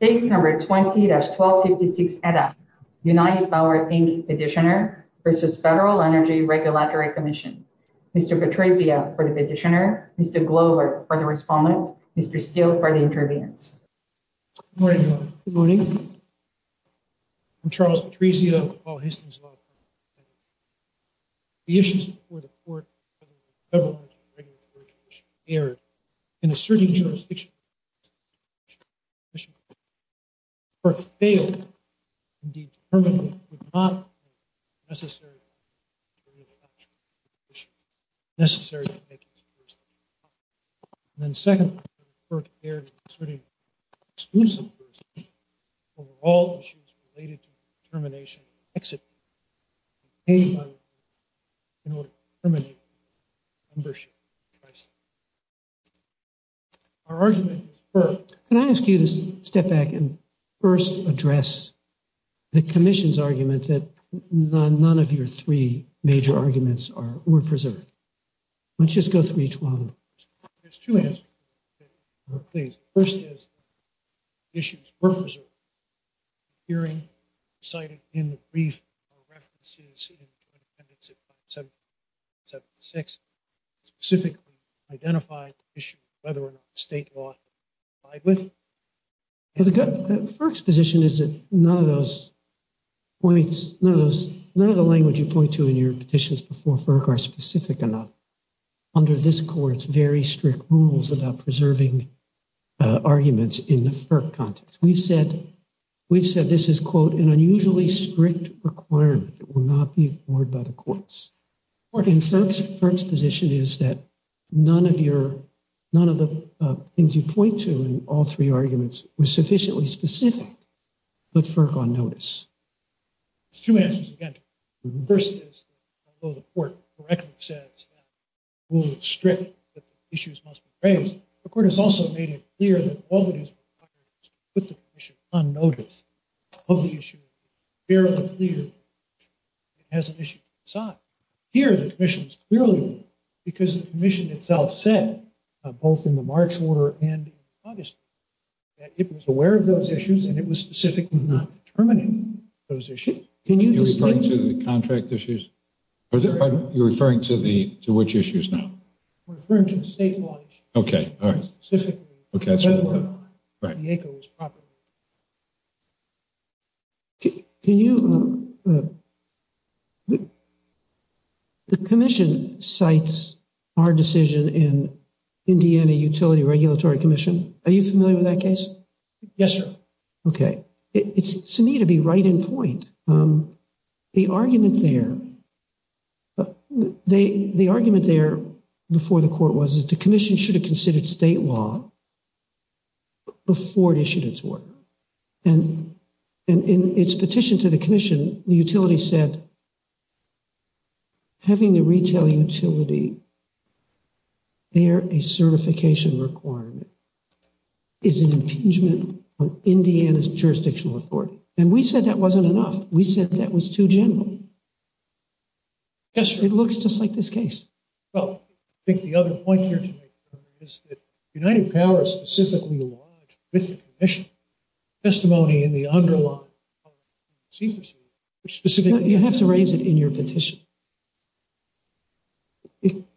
Case number 20-1256 ETA, United Power, Inc. Petitioner v. Federal Energy Regulatory Commission. Mr. Patrizia for the petitioner, Mr. Glover for the respondent, Mr. Steele for the interviewees. Good morning everyone. Good morning. I'm Charles Patrizia, Paul Histon's law firm. The issues before the Court of the Federal Energy Regulatory Commission aired in asserting jurisdiction. FERC failed to determine that it would not be necessary. Then second, FERC aired in asserting exclusive jurisdiction over all issues related to our argument. Can I ask you to step back and first address the Commission's argument that none of your three major arguments were preserved? Let's just go through each one. There's two answers, please. The first is the issues were preserved. The hearing cited in the brief or references in the Appendix 176 specifically identified the issue of whether or not state law is complied with. FERC's position is that none of those points, none of those, none of the language you point to in your petitions before FERC are specific enough. Under this Court's very strict rules about preserving arguments in the FERC context. We've said this is, quote, an unusually strict requirement that will not be ignored by the courts. FERC's position is that none of your, none of the things you point to in all three arguments were sufficiently specific to put FERC on notice. There's two answers again. The first is that although the Court correctly says that rules are strict, that the issues must be raised, the Court has also made it clear that all that is required is to put the Commission on notice of the issue. It's fairly clear it has an issue to decide. Here the Commission's clearly, because the Commission itself said, both in the March order and in August, that it was aware of those issues and it was specifically not determining those issues. Are you referring to the contract issues? Are you referring to which issues now? We're referring to the state law issues. Okay, all right. Specifically, whether or not the ACO is properly. Can you, the Commission cites our decision in Indiana Utility Regulatory Commission. Are you familiar with that case? Yes, sir. Okay. It's to me to be right in point. The argument there, the argument there before the Court was that the Commission should have considered state law before it issued its order. And in its petition to the Commission, the utility said, having the retail utility bear a certification requirement is an impeachment of Indiana's general. Yes, sir. It looks just like this case. Well, I think the other point here is that United Powers specifically lodged with the Commission testimony in the underlying secrecy. You have to raise it in your petition.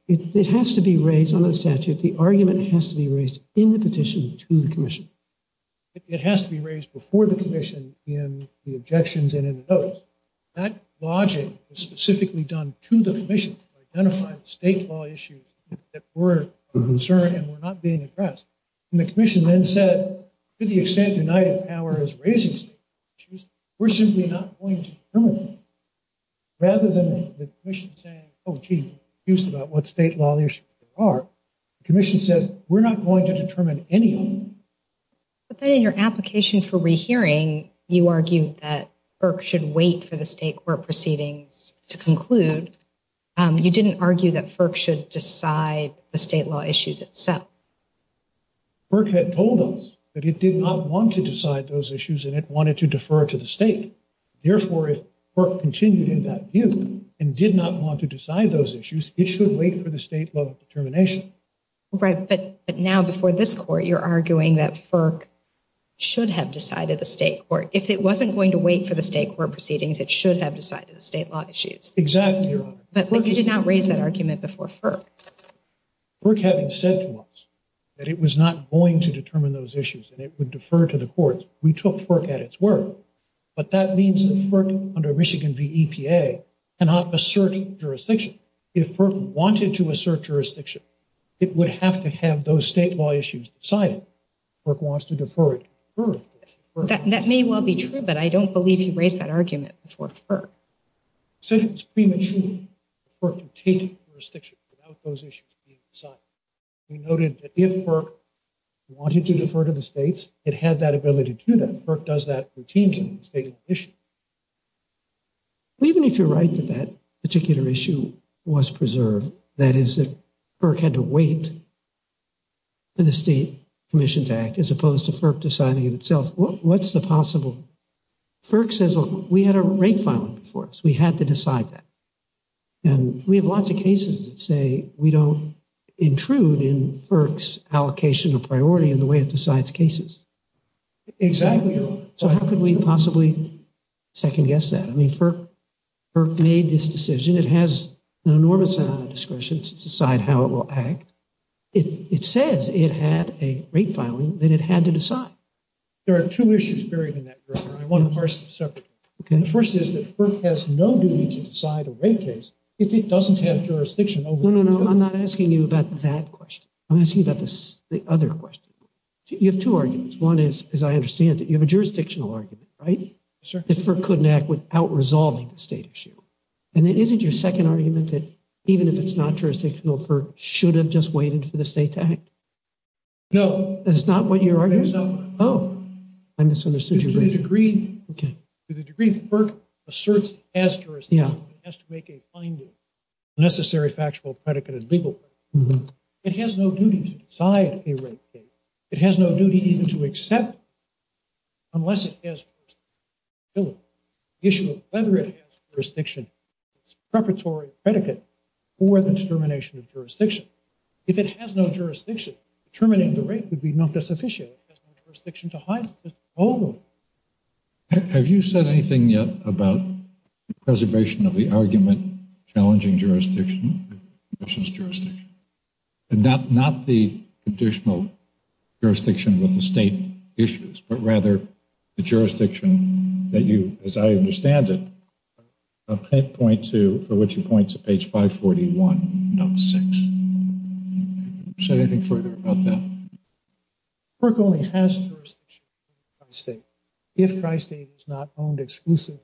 It has to be raised on the statute. The argument has to be raised in the petition to the Commission. It has to be raised before the Commission in the objections and in the notice. That lodging was specifically done to the Commission to identify the state law issues that were of concern and were not being addressed. And the Commission then said, to the extent United Power is raising state law issues, we're simply not going to determine them. Rather than the Commission saying, oh, gee, we're confused about what state law issues there are, the Commission said, we're not going to determine any of them. But then in your application for rehearing, you argued that FERC should wait for the state court proceedings to conclude. You didn't argue that FERC should decide the state law issues itself. FERC had told us that it did not want to decide those issues and it wanted to defer to the state. Therefore, if FERC continued in that view and did not want to decide those issues, it should wait for the state law of determination. Right, but now before this Court, you're arguing that FERC should have decided the state court. If it wasn't going to wait for the state court proceedings, it should have decided the state law issues. Exactly, Your Honor. But you did not raise that argument before FERC. FERC having said to us that it was not going to determine those issues and it would defer to the courts, we took FERC at its word. But that means that FERC under Michigan v. EPA cannot assert jurisdiction. If FERC wanted to assert jurisdiction, it would have to have those state law issues decided. FERC wants to defer it. That may well be true, but I don't believe you raised that argument before FERC. It's premature for FERC to take jurisdiction without those issues being decided. We noted that if FERC wanted to defer to the states, it had that ability to do that. FERC does that routinely. Even if you're right that that particular issue was preserved, that is that FERC had to wait for the State Commissions Act as opposed to FERC deciding it itself, what's the possible? FERC says, look, we had a rate filing before us. We had to decide that. And we have lots of cases that say we don't intrude in FERC's allocation of priority in the way it decides cases. Exactly. So how could we possibly second-guess that? I mean, FERC made this decision. It has an enormous amount of discretion to decide how it will act. It says it had a rate filing that it had to decide. There are two issues buried in that, Governor. I want to parse them separately. The first is that FERC has no duty to decide a rate case if it doesn't have jurisdiction. No, no, no. I'm not asking you about that question. I'm asking about the other question. You have two arguments. One is, as I understand it, you have a jurisdictional argument, right? That FERC couldn't act without resolving the state issue. And then isn't your second argument that even if it's not jurisdictional, FERC should have just waited for the state to act? No. That's not what you're arguing? That's not what I'm arguing. Oh, I misunderstood you. To the degree that FERC asserts it has jurisdiction, it has to make a finding, a necessary factual, predicated, legal finding. It has no duty to decide a rate case. It has no duty even to accept unless it has jurisdiction. The issue of whether it has jurisdiction is a preparatory predicate for the determination of jurisdiction. If it has no jurisdiction, determining the rate would be not sufficient. It has no jurisdiction to hide it. Have you said anything yet about the preservation of the argument challenging jurisdiction? Not the conditional jurisdiction with the state issues, but rather the jurisdiction that you, as I understand it, point to, for which you point to page 541, note 6. Have you said anything further about that? FERC only has jurisdiction in Tri-State if Tri-State is not owned exclusively.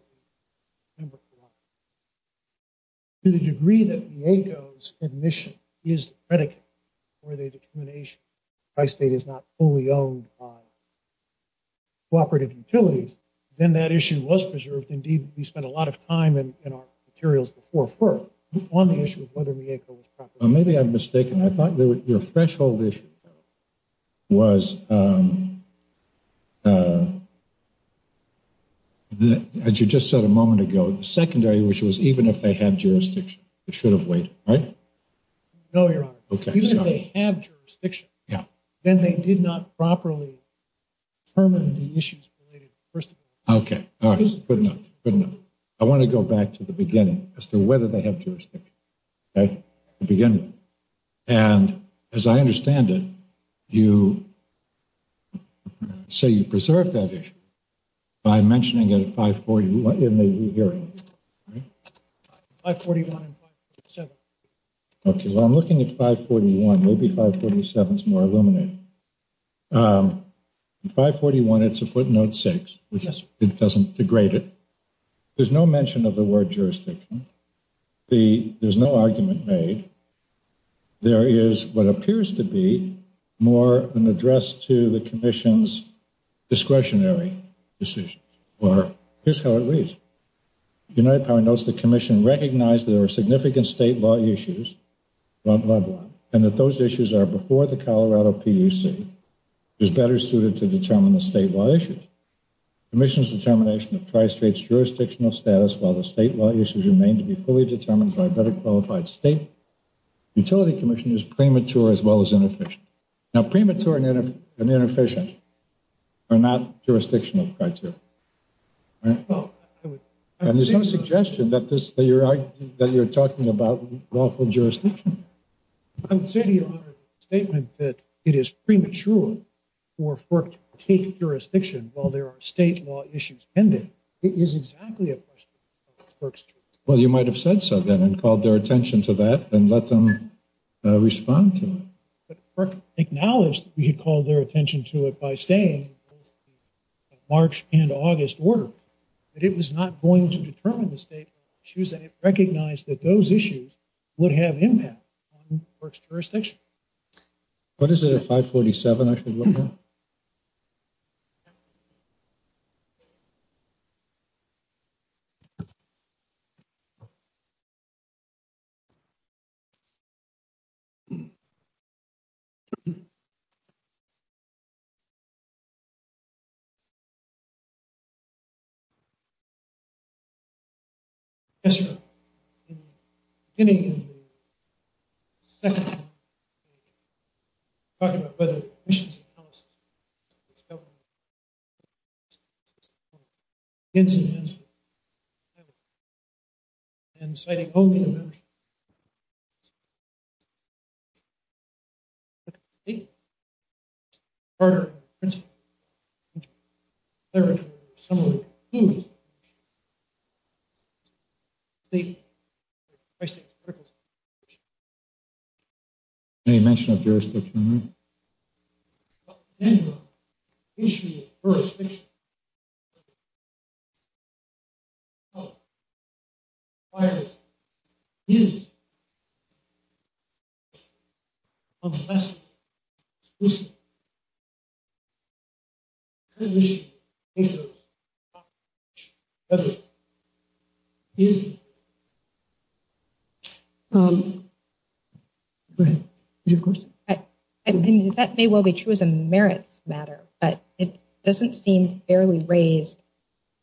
To the degree that Mieko's admission is the predicate for the determination Tri-State is not fully owned by cooperative utilities, then that issue was preserved. Indeed, we spent a lot of time in our materials before FERC on the issue of whether Mieko was properly owned. Maybe I'm wrong. As you just said a moment ago, the secondary issue was even if they had jurisdiction, it should have waited, right? No, Your Honor. Even if they have jurisdiction, then they did not properly determine the issues related to the First Amendment. Okay. All right. Good enough. Good enough. I want to go back to the beginning as to whether they by mentioning it at 540. What am I hearing? 541 and 547. Okay. Well, I'm looking at 541. Maybe 547 is more illuminating. In 541, it's a footnote 6, which it doesn't degrade it. There's no mention of the word jurisdiction. There's no argument made. There is what appears to be more an address to the Commission's discretionary decisions. Here's how it reads. United Power notes the Commission recognized that there were significant state law issues, and that those issues are before the Colorado PUC is better suited to determine the state law issues. Commission's determination of Tri-State's jurisdictional status while the state law issues remain to be fully determined by a better qualified state utility commission is premature as well as inefficient. Now, premature and inefficient are not jurisdictional criteria. And there's no suggestion that you're talking about lawful jurisdiction. I would say to you, Your Honor, the statement that it is premature for FERC to take jurisdiction while there are state law issues pending is exactly a question of FERC's jurisdiction. Well, you might have said so then and called their attention to that and let them respond to it. But FERC acknowledged that we had called their attention to it by saying March and August order, but it was not going to determine the state issues, and it recognized that those issues would have impact on FERC's jurisdiction. What is it, a 547 I should look at? Yes, Your Honor. Beginning of the second hearing, we were talking about whether the commission's that may well be true as a merit's matter, but it doesn't seem fairly raised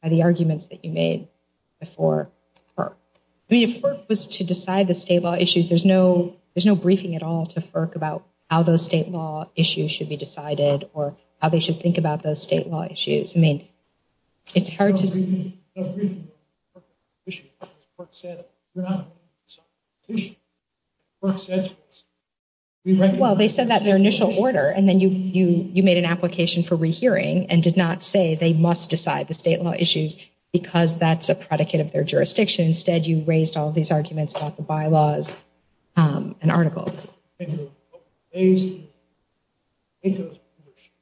by the arguments that you made before FERC. I mean, if FERC was to decide the state law issues, there's no briefing at all to FERC about how those state law issues should be decided or how they should think about those state law issues. I mean, it's hard to see. Well, they said that in their initial order, and then you made an application for rehearing and did not say they must decide the state law issues because that's a predicate of their jurisdiction. Instead, you raised all these arguments about the bylaws and articles. I mean, if the ACO membership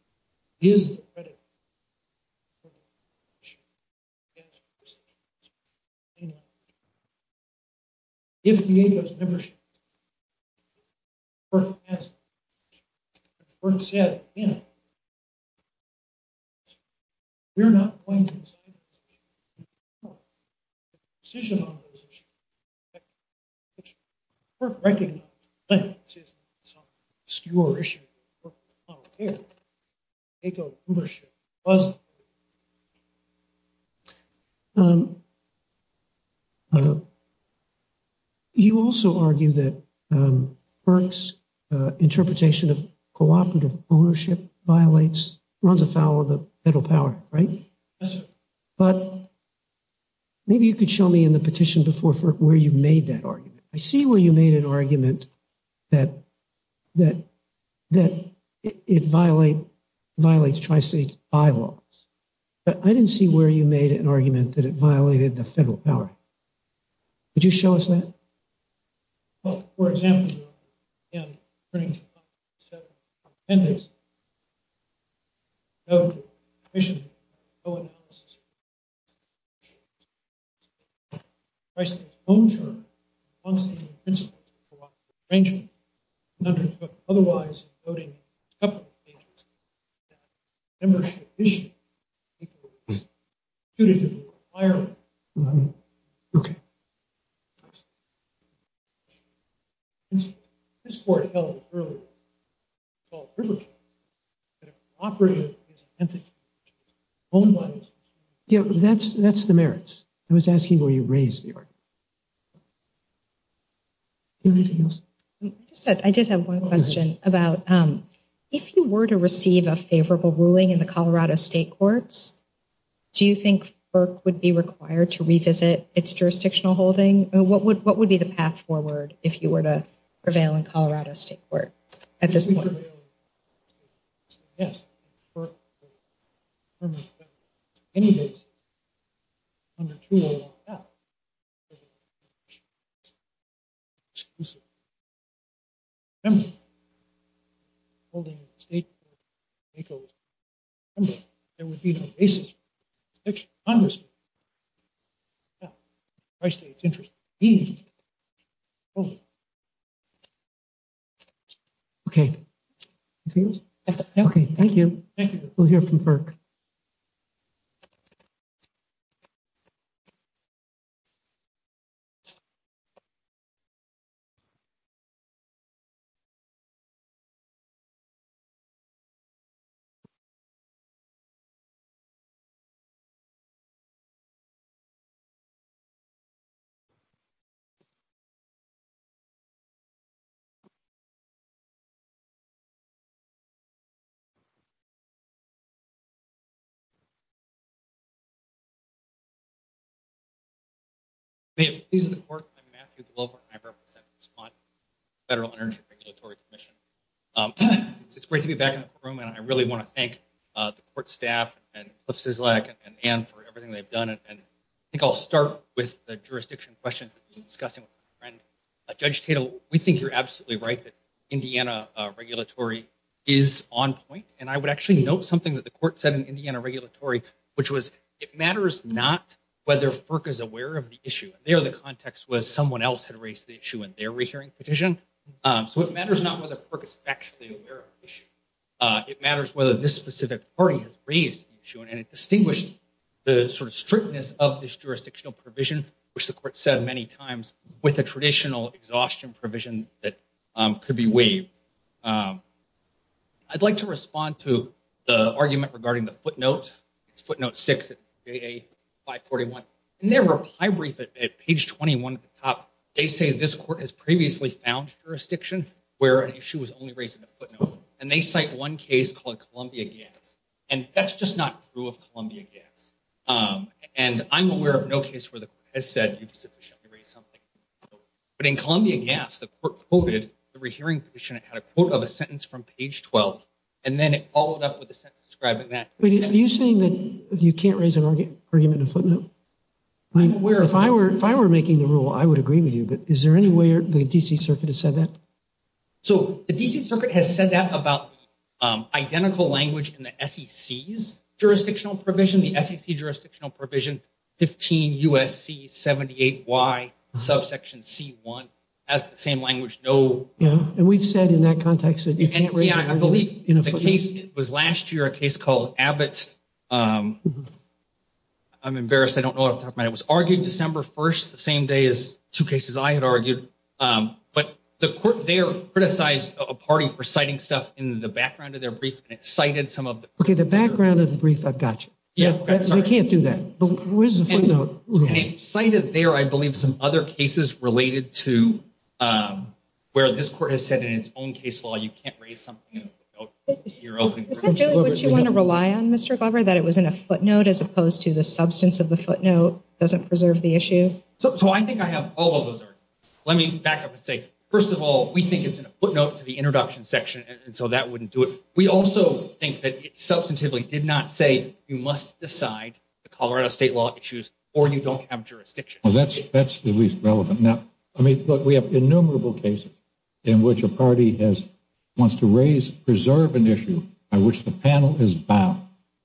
has said, you know, we're not going to decide on those issues, the decision on those issues, which FERC recognizes, but it's not an obscure issue. You also argue that FERC's interpretation of cooperative ownership violates, runs afoul of federal power, right? But maybe you could show me in the petition before where you made that argument. I see where you made an argument that it violates tri-state bylaws, but I didn't see where you made an argument that it violated the federal power. Could you show us that? Yeah, that's the merits. I was asking where you raised the argument. I did have one question about if you were to receive a favorable ruling in the Colorado state courts, do you think FERC would be required to revisit its jurisdictional holding? What would be the path forward if you were to prevail in Colorado state court at this point? Anything else? Okay, thank you. Thank you. We'll hear from FERC. I'm Matthew Glover, and I represent the Vermont Federal Energy Regulatory Commission. It's great to be back in the courtroom, and I really want to thank the court staff and Cliff Szyslak and Ann for everything they've done, and I think I'll start with the jurisdiction questions that we've been discussing with my friend. Judge Tatel, we think you're absolutely right that Indiana regulatory is on point, and I would actually note something that the court said in Indiana regulatory, which was it matters not whether FERC is aware of the issue. There, the context was someone else had raised the issue in their rehearing petition, so it matters not whether FERC is actually aware of the issue. It matters whether this specific party has raised the issue, and it distinguished the sort of strictness of this jurisdictional provision, which the court said many times, with the traditional exhaustion provision that could be waived. I'd like to respond to the argument regarding the footnote. It's footnote six at VA 541, and there were high brief at page 21 at the top. They say this court has previously found jurisdiction where an issue was only raised in a footnote, and they cite one case called Columbia Gas, and that's just not true of Columbia Gas, and I'm aware of no case where the court has said you've sufficiently raised something, but in Columbia Gas, the court quoted the rehearing petition. It had a quote of a sentence from page 12, and then it followed up with a sentence describing that. Are you saying that you can't raise an argument in a footnote? If I were making the rule, I would agree with you, but is there any way the D.C. Circuit has said that? So, the S.E.C.'s jurisdictional provision, the S.E.C. jurisdictional provision, 15 U.S.C. 78Y, subsection C1, has the same language. Yeah, and we've said in that context that you can't raise an argument in a footnote. Yeah, I believe the case was last year, a case called Abbott. I'm embarrassed. I don't know what I'm talking about. It was argued December 1st, the same day as two cases I had argued, but the court there criticized a party for citing stuff in the footnote. Okay, the background of the brief, I've got you. They can't do that, but where's the footnote? And it cited there, I believe, some other cases related to where this court has said in its own case law you can't raise something in a footnote. Is that really what you want to rely on, Mr. Glover, that it was in a footnote as opposed to the substance of the footnote doesn't preserve the issue? So, I think I have all of those arguments. Let me back up and say, first of all, we think it's in a footnote to the introduction section, and so that wouldn't do it. We also think that it substantively did not say you must decide the Colorado state law issues or you don't have jurisdiction. Well, that's at least relevant. Now, I mean, look, we have innumerable cases in which a party wants to raise, preserve an issue by which the panel is bound.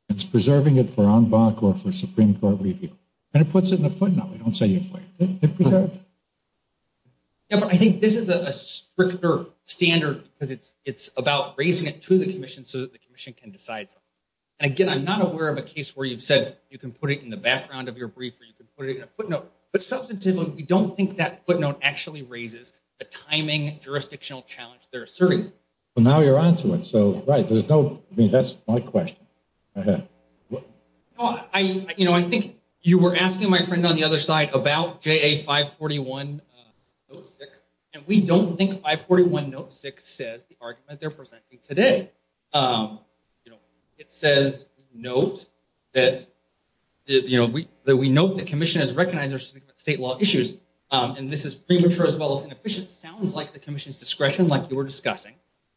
It's preserving it for en banc or for Supreme Court review, and it puts it in a footnote. They don't say it in a footnote. They preserve it. Yeah, but I think this is a stricter standard because it's about raising it to the commission so that the commission can decide something. And again, I'm not aware of a case where you've said you can put it in the background of your brief or you can put it in a footnote, but substantively, we don't think that footnote actually raises the timing jurisdictional challenge they're serving. Well, now you're onto it. So, right, there's no, I mean, that's my question. Go ahead. Well, I, you know, I think you were asking my friend on the other side about JA 541-06, and we don't think 541-06 says the argument they're presenting today. You know, it says note that, you know, that we note the commission has recognized there's something about state law issues, and this is premature as well as inefficient, sounds like the commission's discretion like you were discussing.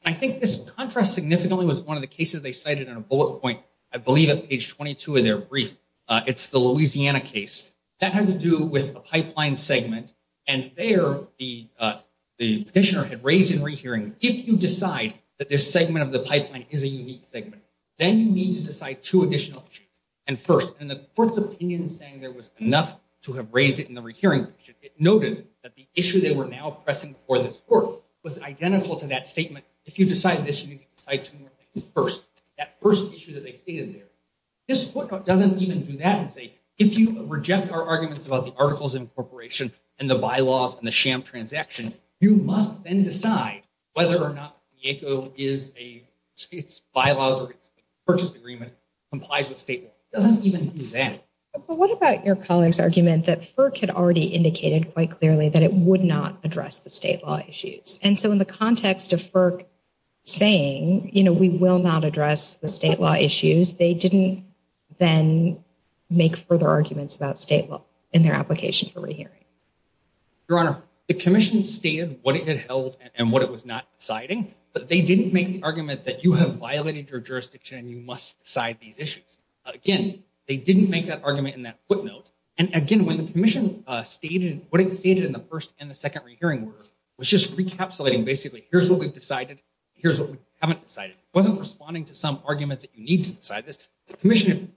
I think this contrast significantly was one of the cases they cited in a bullet point, I believe at page 22 of their brief. It's the Louisiana case. That had to do with a pipeline segment, and there the petitioner had raised in rehearing, if you decide that this segment of the pipeline is a unique segment, then you need to decide two additional issues. And first, in the court's opinion saying there was enough to have raised it in the rehearing, it noted that the issue they were now pressing before this court was identical to that statement, if you decide this, you need to decide two more first. That first issue that they stated there. This court doesn't even do that and say, if you reject our arguments about the Articles of Incorporation and the bylaws and the sham transaction, you must then decide whether or not the ACO is a, its bylaws or its purchase agreement complies with state law. It doesn't even do that. What about your colleague's argument that FERC had already indicated quite clearly that it would not address the state law issues? And so in the context of FERC saying, you know, we will not address the state law issues, they didn't then make further arguments about state law in their application for rehearing. Your Honor, the commission stated what it had held and what it was not deciding, but they didn't make the argument that you have violated your jurisdiction and you must decide these issues. Again, they didn't make that argument in that footnote. And again, when basically, here's what we've decided. Here's what we haven't decided. It wasn't responding to some argument that you need to decide this. The commission.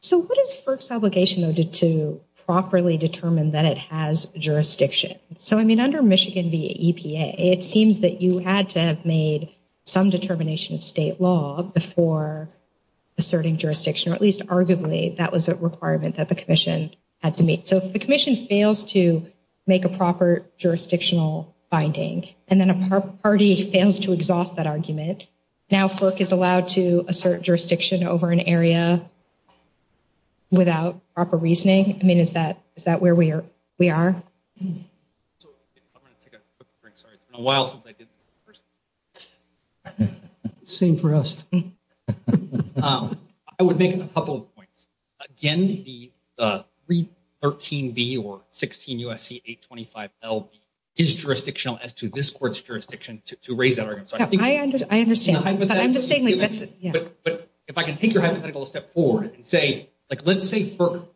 So what is FERC's obligation, though, to properly determine that it has jurisdiction? So, I mean, under Michigan v. EPA, it seems that you had to have made some determination of state law before asserting jurisdiction, or at least arguably that was a requirement that the commission had to meet. So if the commission fails to make a proper jurisdictional finding, and then a party fails to exhaust that argument, now FERC is allowed to assert jurisdiction over an area without proper reasoning? I mean, is that where we are? So I'm going to take a quick break. Sorry. It's been a while since I did this. Same for us. I would make a couple of points. Again, the 313B or 16 U.S.C. 825LB is jurisdictional as to this court's jurisdiction to raise that argument. I understand. But I'm just saying, yeah. But if I can take your hypothetical a step forward and say, like, let's say FERC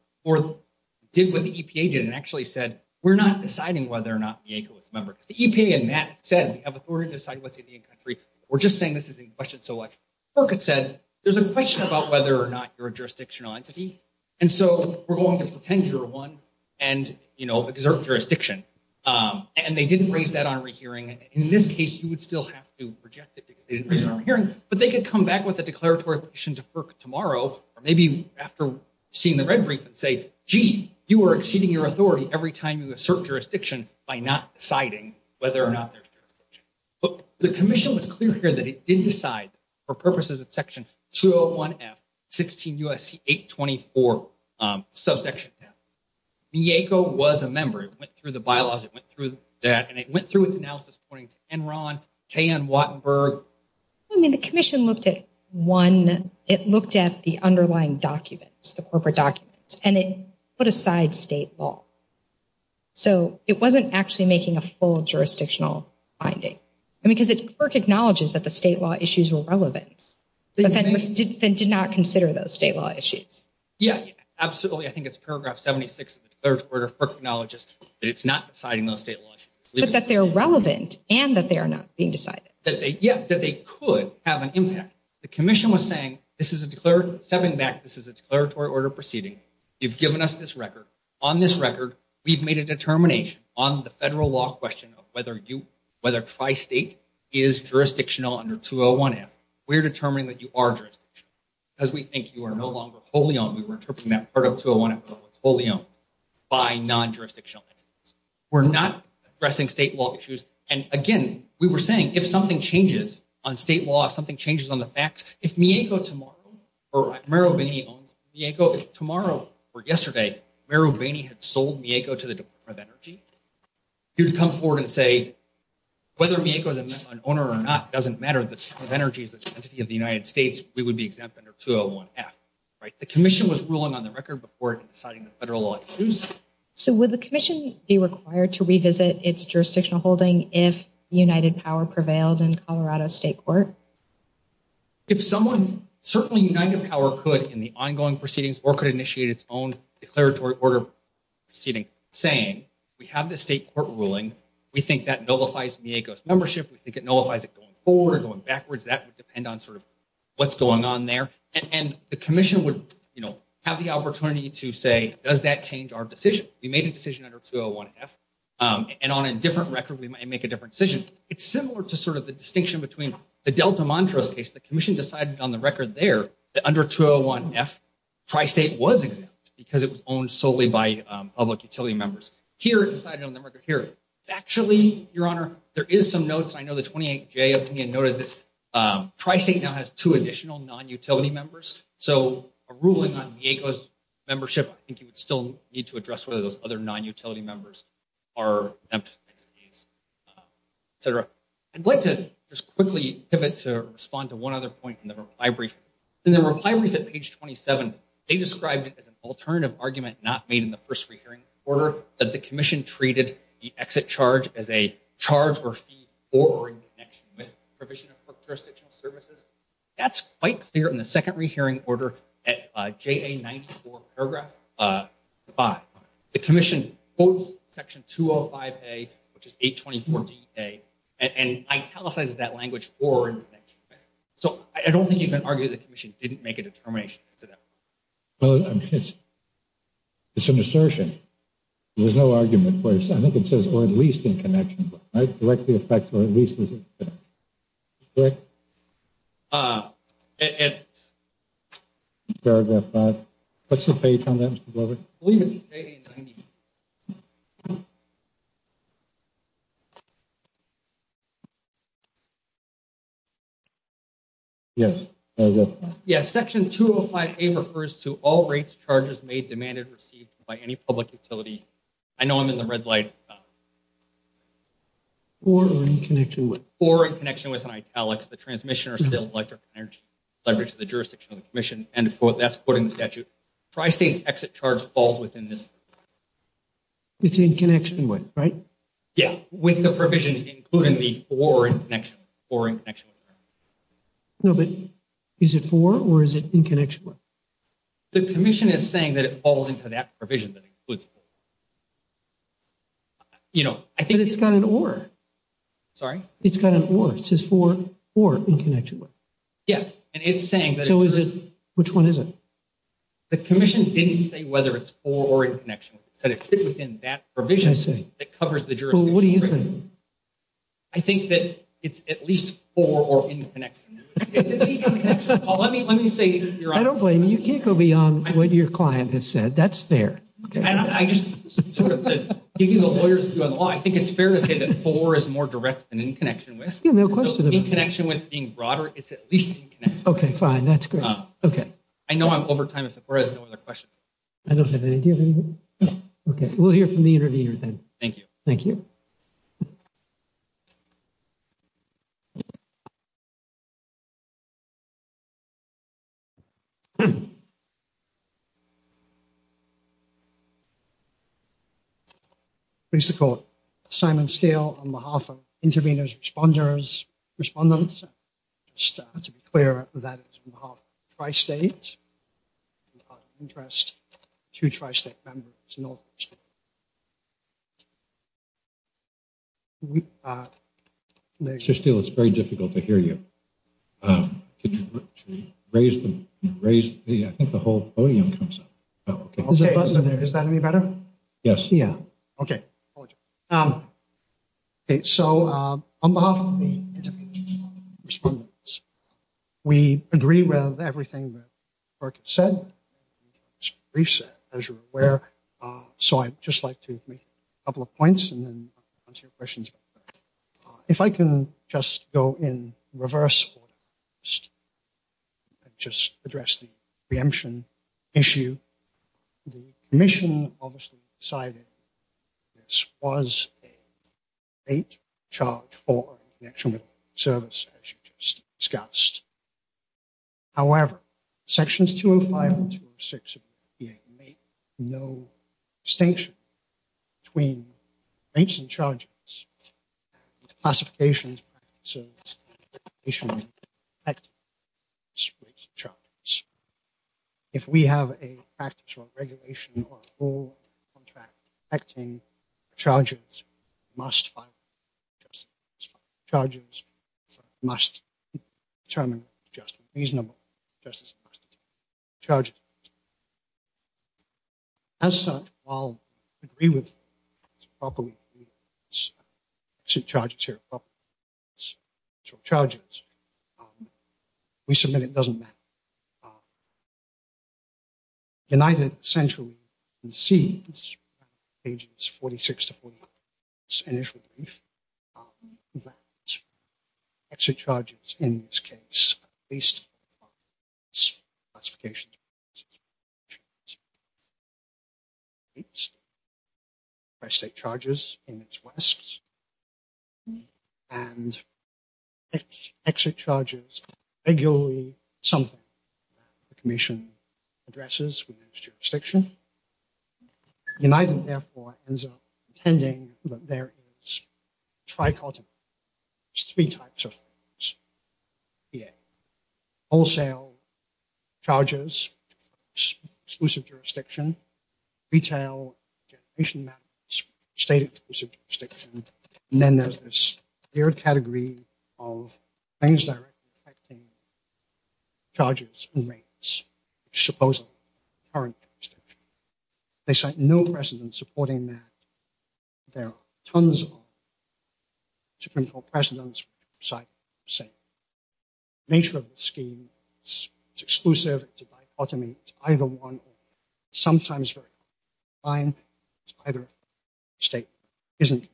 did what the EPA did and actually said, we're not deciding whether or not Mieko is a member. Because the EPA and Matt said, we have authority to decide what's Indian country. We're just saying this isn't questioned so much. FERC had said, there's a question about whether or not you're a jurisdictional entity. And so we're going to pretend you're one and exert jurisdiction. And they didn't raise that on a rehearing. In this case, you would still have to reject it because they didn't raise it on a hearing. But they could come back with a declaratory petition tomorrow or maybe after seeing the red brief and say, gee, you are exceeding your authority every time you assert jurisdiction by not deciding whether or not there's jurisdiction. But the commission was clear here that it did decide for purposes of Section 201F, 16 U.S.C. 824 subsection 10. Mieko was a member. It went through the bylaws. It went through that. And it went to Enron, KN, Wattenberg. I mean, the commission looked at one. It looked at the underlying documents, the corporate documents. And it put aside state law. So it wasn't actually making a full jurisdictional finding. I mean, because FERC acknowledges that the state law issues were relevant. But then did not consider those state law issues. Yeah, absolutely. I think it's paragraph 76 of the third quarter. FERC acknowledges that it's not deciding those state law issues. But they're relevant and that they are not being decided. Yeah, that they could have an impact. The commission was saying, this is a declaratory order proceeding. You've given us this record. On this record, we've made a determination on the federal law question of whether you, whether tri-state is jurisdictional under 201F. We're determining that you are jurisdictional. Because we think you are no longer wholly owned. We were interpreting that part of 201F as wholly owned by non-jurisdictional entities. We're not addressing state law issues. And again, we were saying, if something changes on state law, if something changes on the facts, if Mieko tomorrow, or Merrill Bainey owns Mieko tomorrow or yesterday, Merrill Bainey had sold Mieko to the Department of Energy, he would come forward and say, whether Mieko is an owner or not doesn't matter. The Department of Energy is an entity of the United States. We would be exempt under 201F. The commission was ruling on the record before deciding the federal law issues. So would the commission be required to revisit its jurisdictional holding if United Power prevailed in Colorado State Court? If someone, certainly United Power could in the ongoing proceedings, or could initiate its own declaratory order proceeding, saying, we have the state court ruling. We think that nullifies Mieko's membership. We think it nullifies it going forward or going backwards. That would depend on what's going on there. And the commission would have the opportunity to say, does that change our decision? We made a decision under 201F. And on a different record, we might make a different decision. It's similar to the distinction between the Delta Montrose case. The commission decided on the record there that under 201F, Tri-State was exempt because it was owned solely by public utility members. Here, it decided on the record here. Factually, Your Honor, there is some notes. I know the 28J opinion noted this. Tri-State now has two additional non-utility members. So a ruling on Mieko's membership, I think you would still need to address whether those other non-utility members are exempt. Et cetera. I'd like to just quickly pivot to respond to one other point from the reply brief. In the reply brief at page 27, they described it as an alternative argument not made in the first re-hearing order that the charge or fee or in connection with provision of jurisdictional services. That's quite clear in the second re-hearing order at JA94 paragraph 5. The commission quotes section 205A, which is 824DA, and italicizes that language or in connection with. So I don't think you can argue the commission didn't make a determination as to that. Well, I mean, it's an assertion. There's no argument, of course. I think it says, or at least in connection, right? Directly affects or at least is it correct? Paragraph 5. What's the page on that, Mr. Glover? I believe it's 80 and 90. Yes, paragraph 5. Yes, section 205A refers to all rates charges made, demanded, received by any public utility. I know I'm in the red light. Or in connection with. Or in connection with italics, the transmission or sale of electric energy leverage to the jurisdiction of the commission. And that's put in the statute. Tri-states exit charge falls within this. It's in connection with, right? Yeah, with the provision including the or in connection. Or in connection. No, but is it for or is it in connection with? The commission is saying that it falls into that provision that includes. You know, I think it's got an or. Sorry, it's got an or. It says for or in connection with. Yes, and it's saying that. So is it? Which one is it? The commission didn't say whether it's for or in connection with. It said it fit within that provision that covers the jurisdiction. Well, what do you think? I think that it's at least for or in connection. It's at least in connection. Well, let me let me say. I don't blame you. You can't go beyond what your client has said. That's fair. I think it's fair to say that for is more direct than in connection with. In connection with being broader, it's at least. OK, fine. That's good. OK, I know I'm over time. There's no other questions. I don't have any. OK, we'll hear from the interviewer. Thank you. Thank you. Please call Simon Steele on behalf of intervenors, responders, respondents. Just to be clear that it's tri-state interest to Tri-State members. It's very difficult to hear you. I think the whole podium comes up. Is that any better? Yes. Yeah. OK. So on behalf of the interviewees and respondents, we agree with everything that Berk has said. As you're aware, so I'd just like to make a couple of points and then answer your questions. If I can just go in reverse order, just address the preemption issue. The commission obviously decided this was a late charge for connection with service, as you just discussed. However, sections 205 and 206 of the EPA no distinction between rates and charges, classifications. If we have a practice or regulation or whole contract acting charges must just charges must determine just reasonable charges. As such, I'll agree with properly to charge charges. We submit it doesn't matter. United essentially sees pages 46 to 40. Exit charges, in this case, based on classification. By state charges in its West and its exit charges, regularly something the commission addresses with jurisdiction. United, therefore, ends up intending that there is three types of wholesale charges, exclusive jurisdiction, retail, generation, state jurisdiction. And then there's this third category of things that are affecting charges and rates, supposedly current jurisdiction. They cite no precedent supporting that. There are tons of Supreme Court precedents. Nature of the scheme is exclusive to dichotomy, either one, sometimes either state isn't.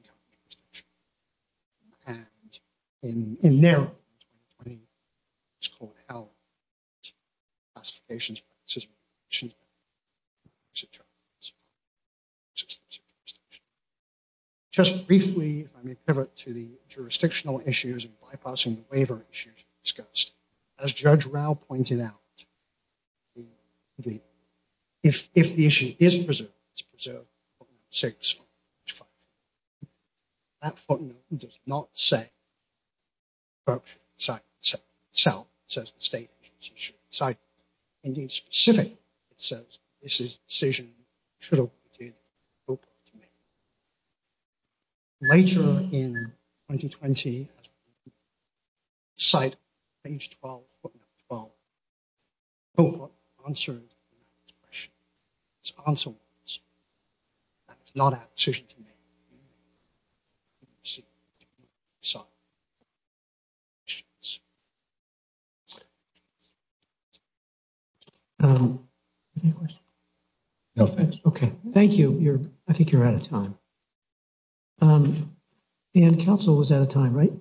Just briefly, to the jurisdictional issues of bypassing the waiver issues discussed, as Judge Rao pointed out, if the issue is preserved, it's preserved. That footnote does not say. Indeed, specific, it says this decision should have been made. Later in 2020, cite page 12, footnote 12, answered this question. It's answered. That is not a decision to make. Okay, thank you. I think you're out of time. And counsel was out of time, right?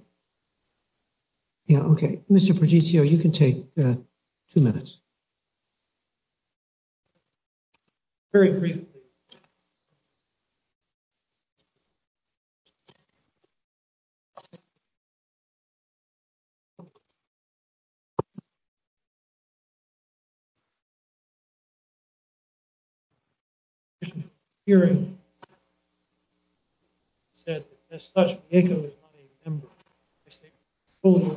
Yeah, okay. Mr. Progetio, you can take two minutes. Very briefly. The hearing said that Judge Progetio is not a member of the State Court of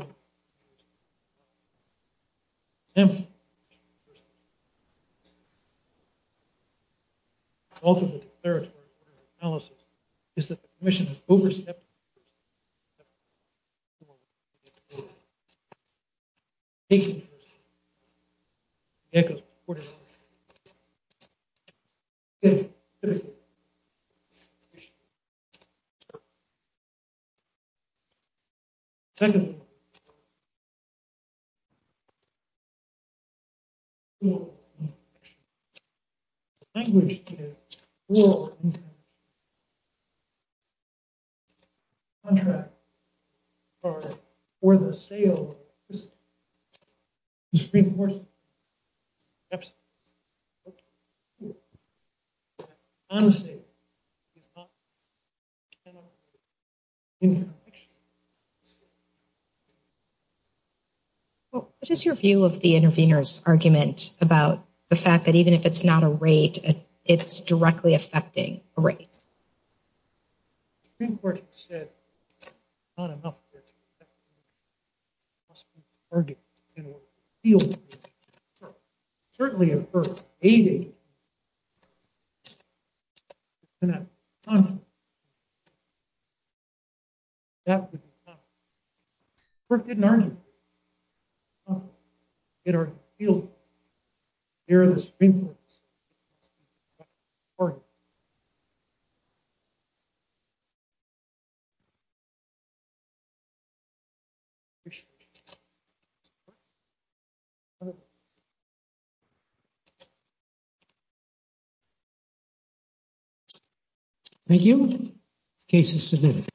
Appeals. Also, the declaratory order of analysis is that the commission has overstepped. Well, what is your view of the intervener's argument about the fact that even if it's not a rate, it's directly affecting a rate? All right. Thank you. Case is submitted.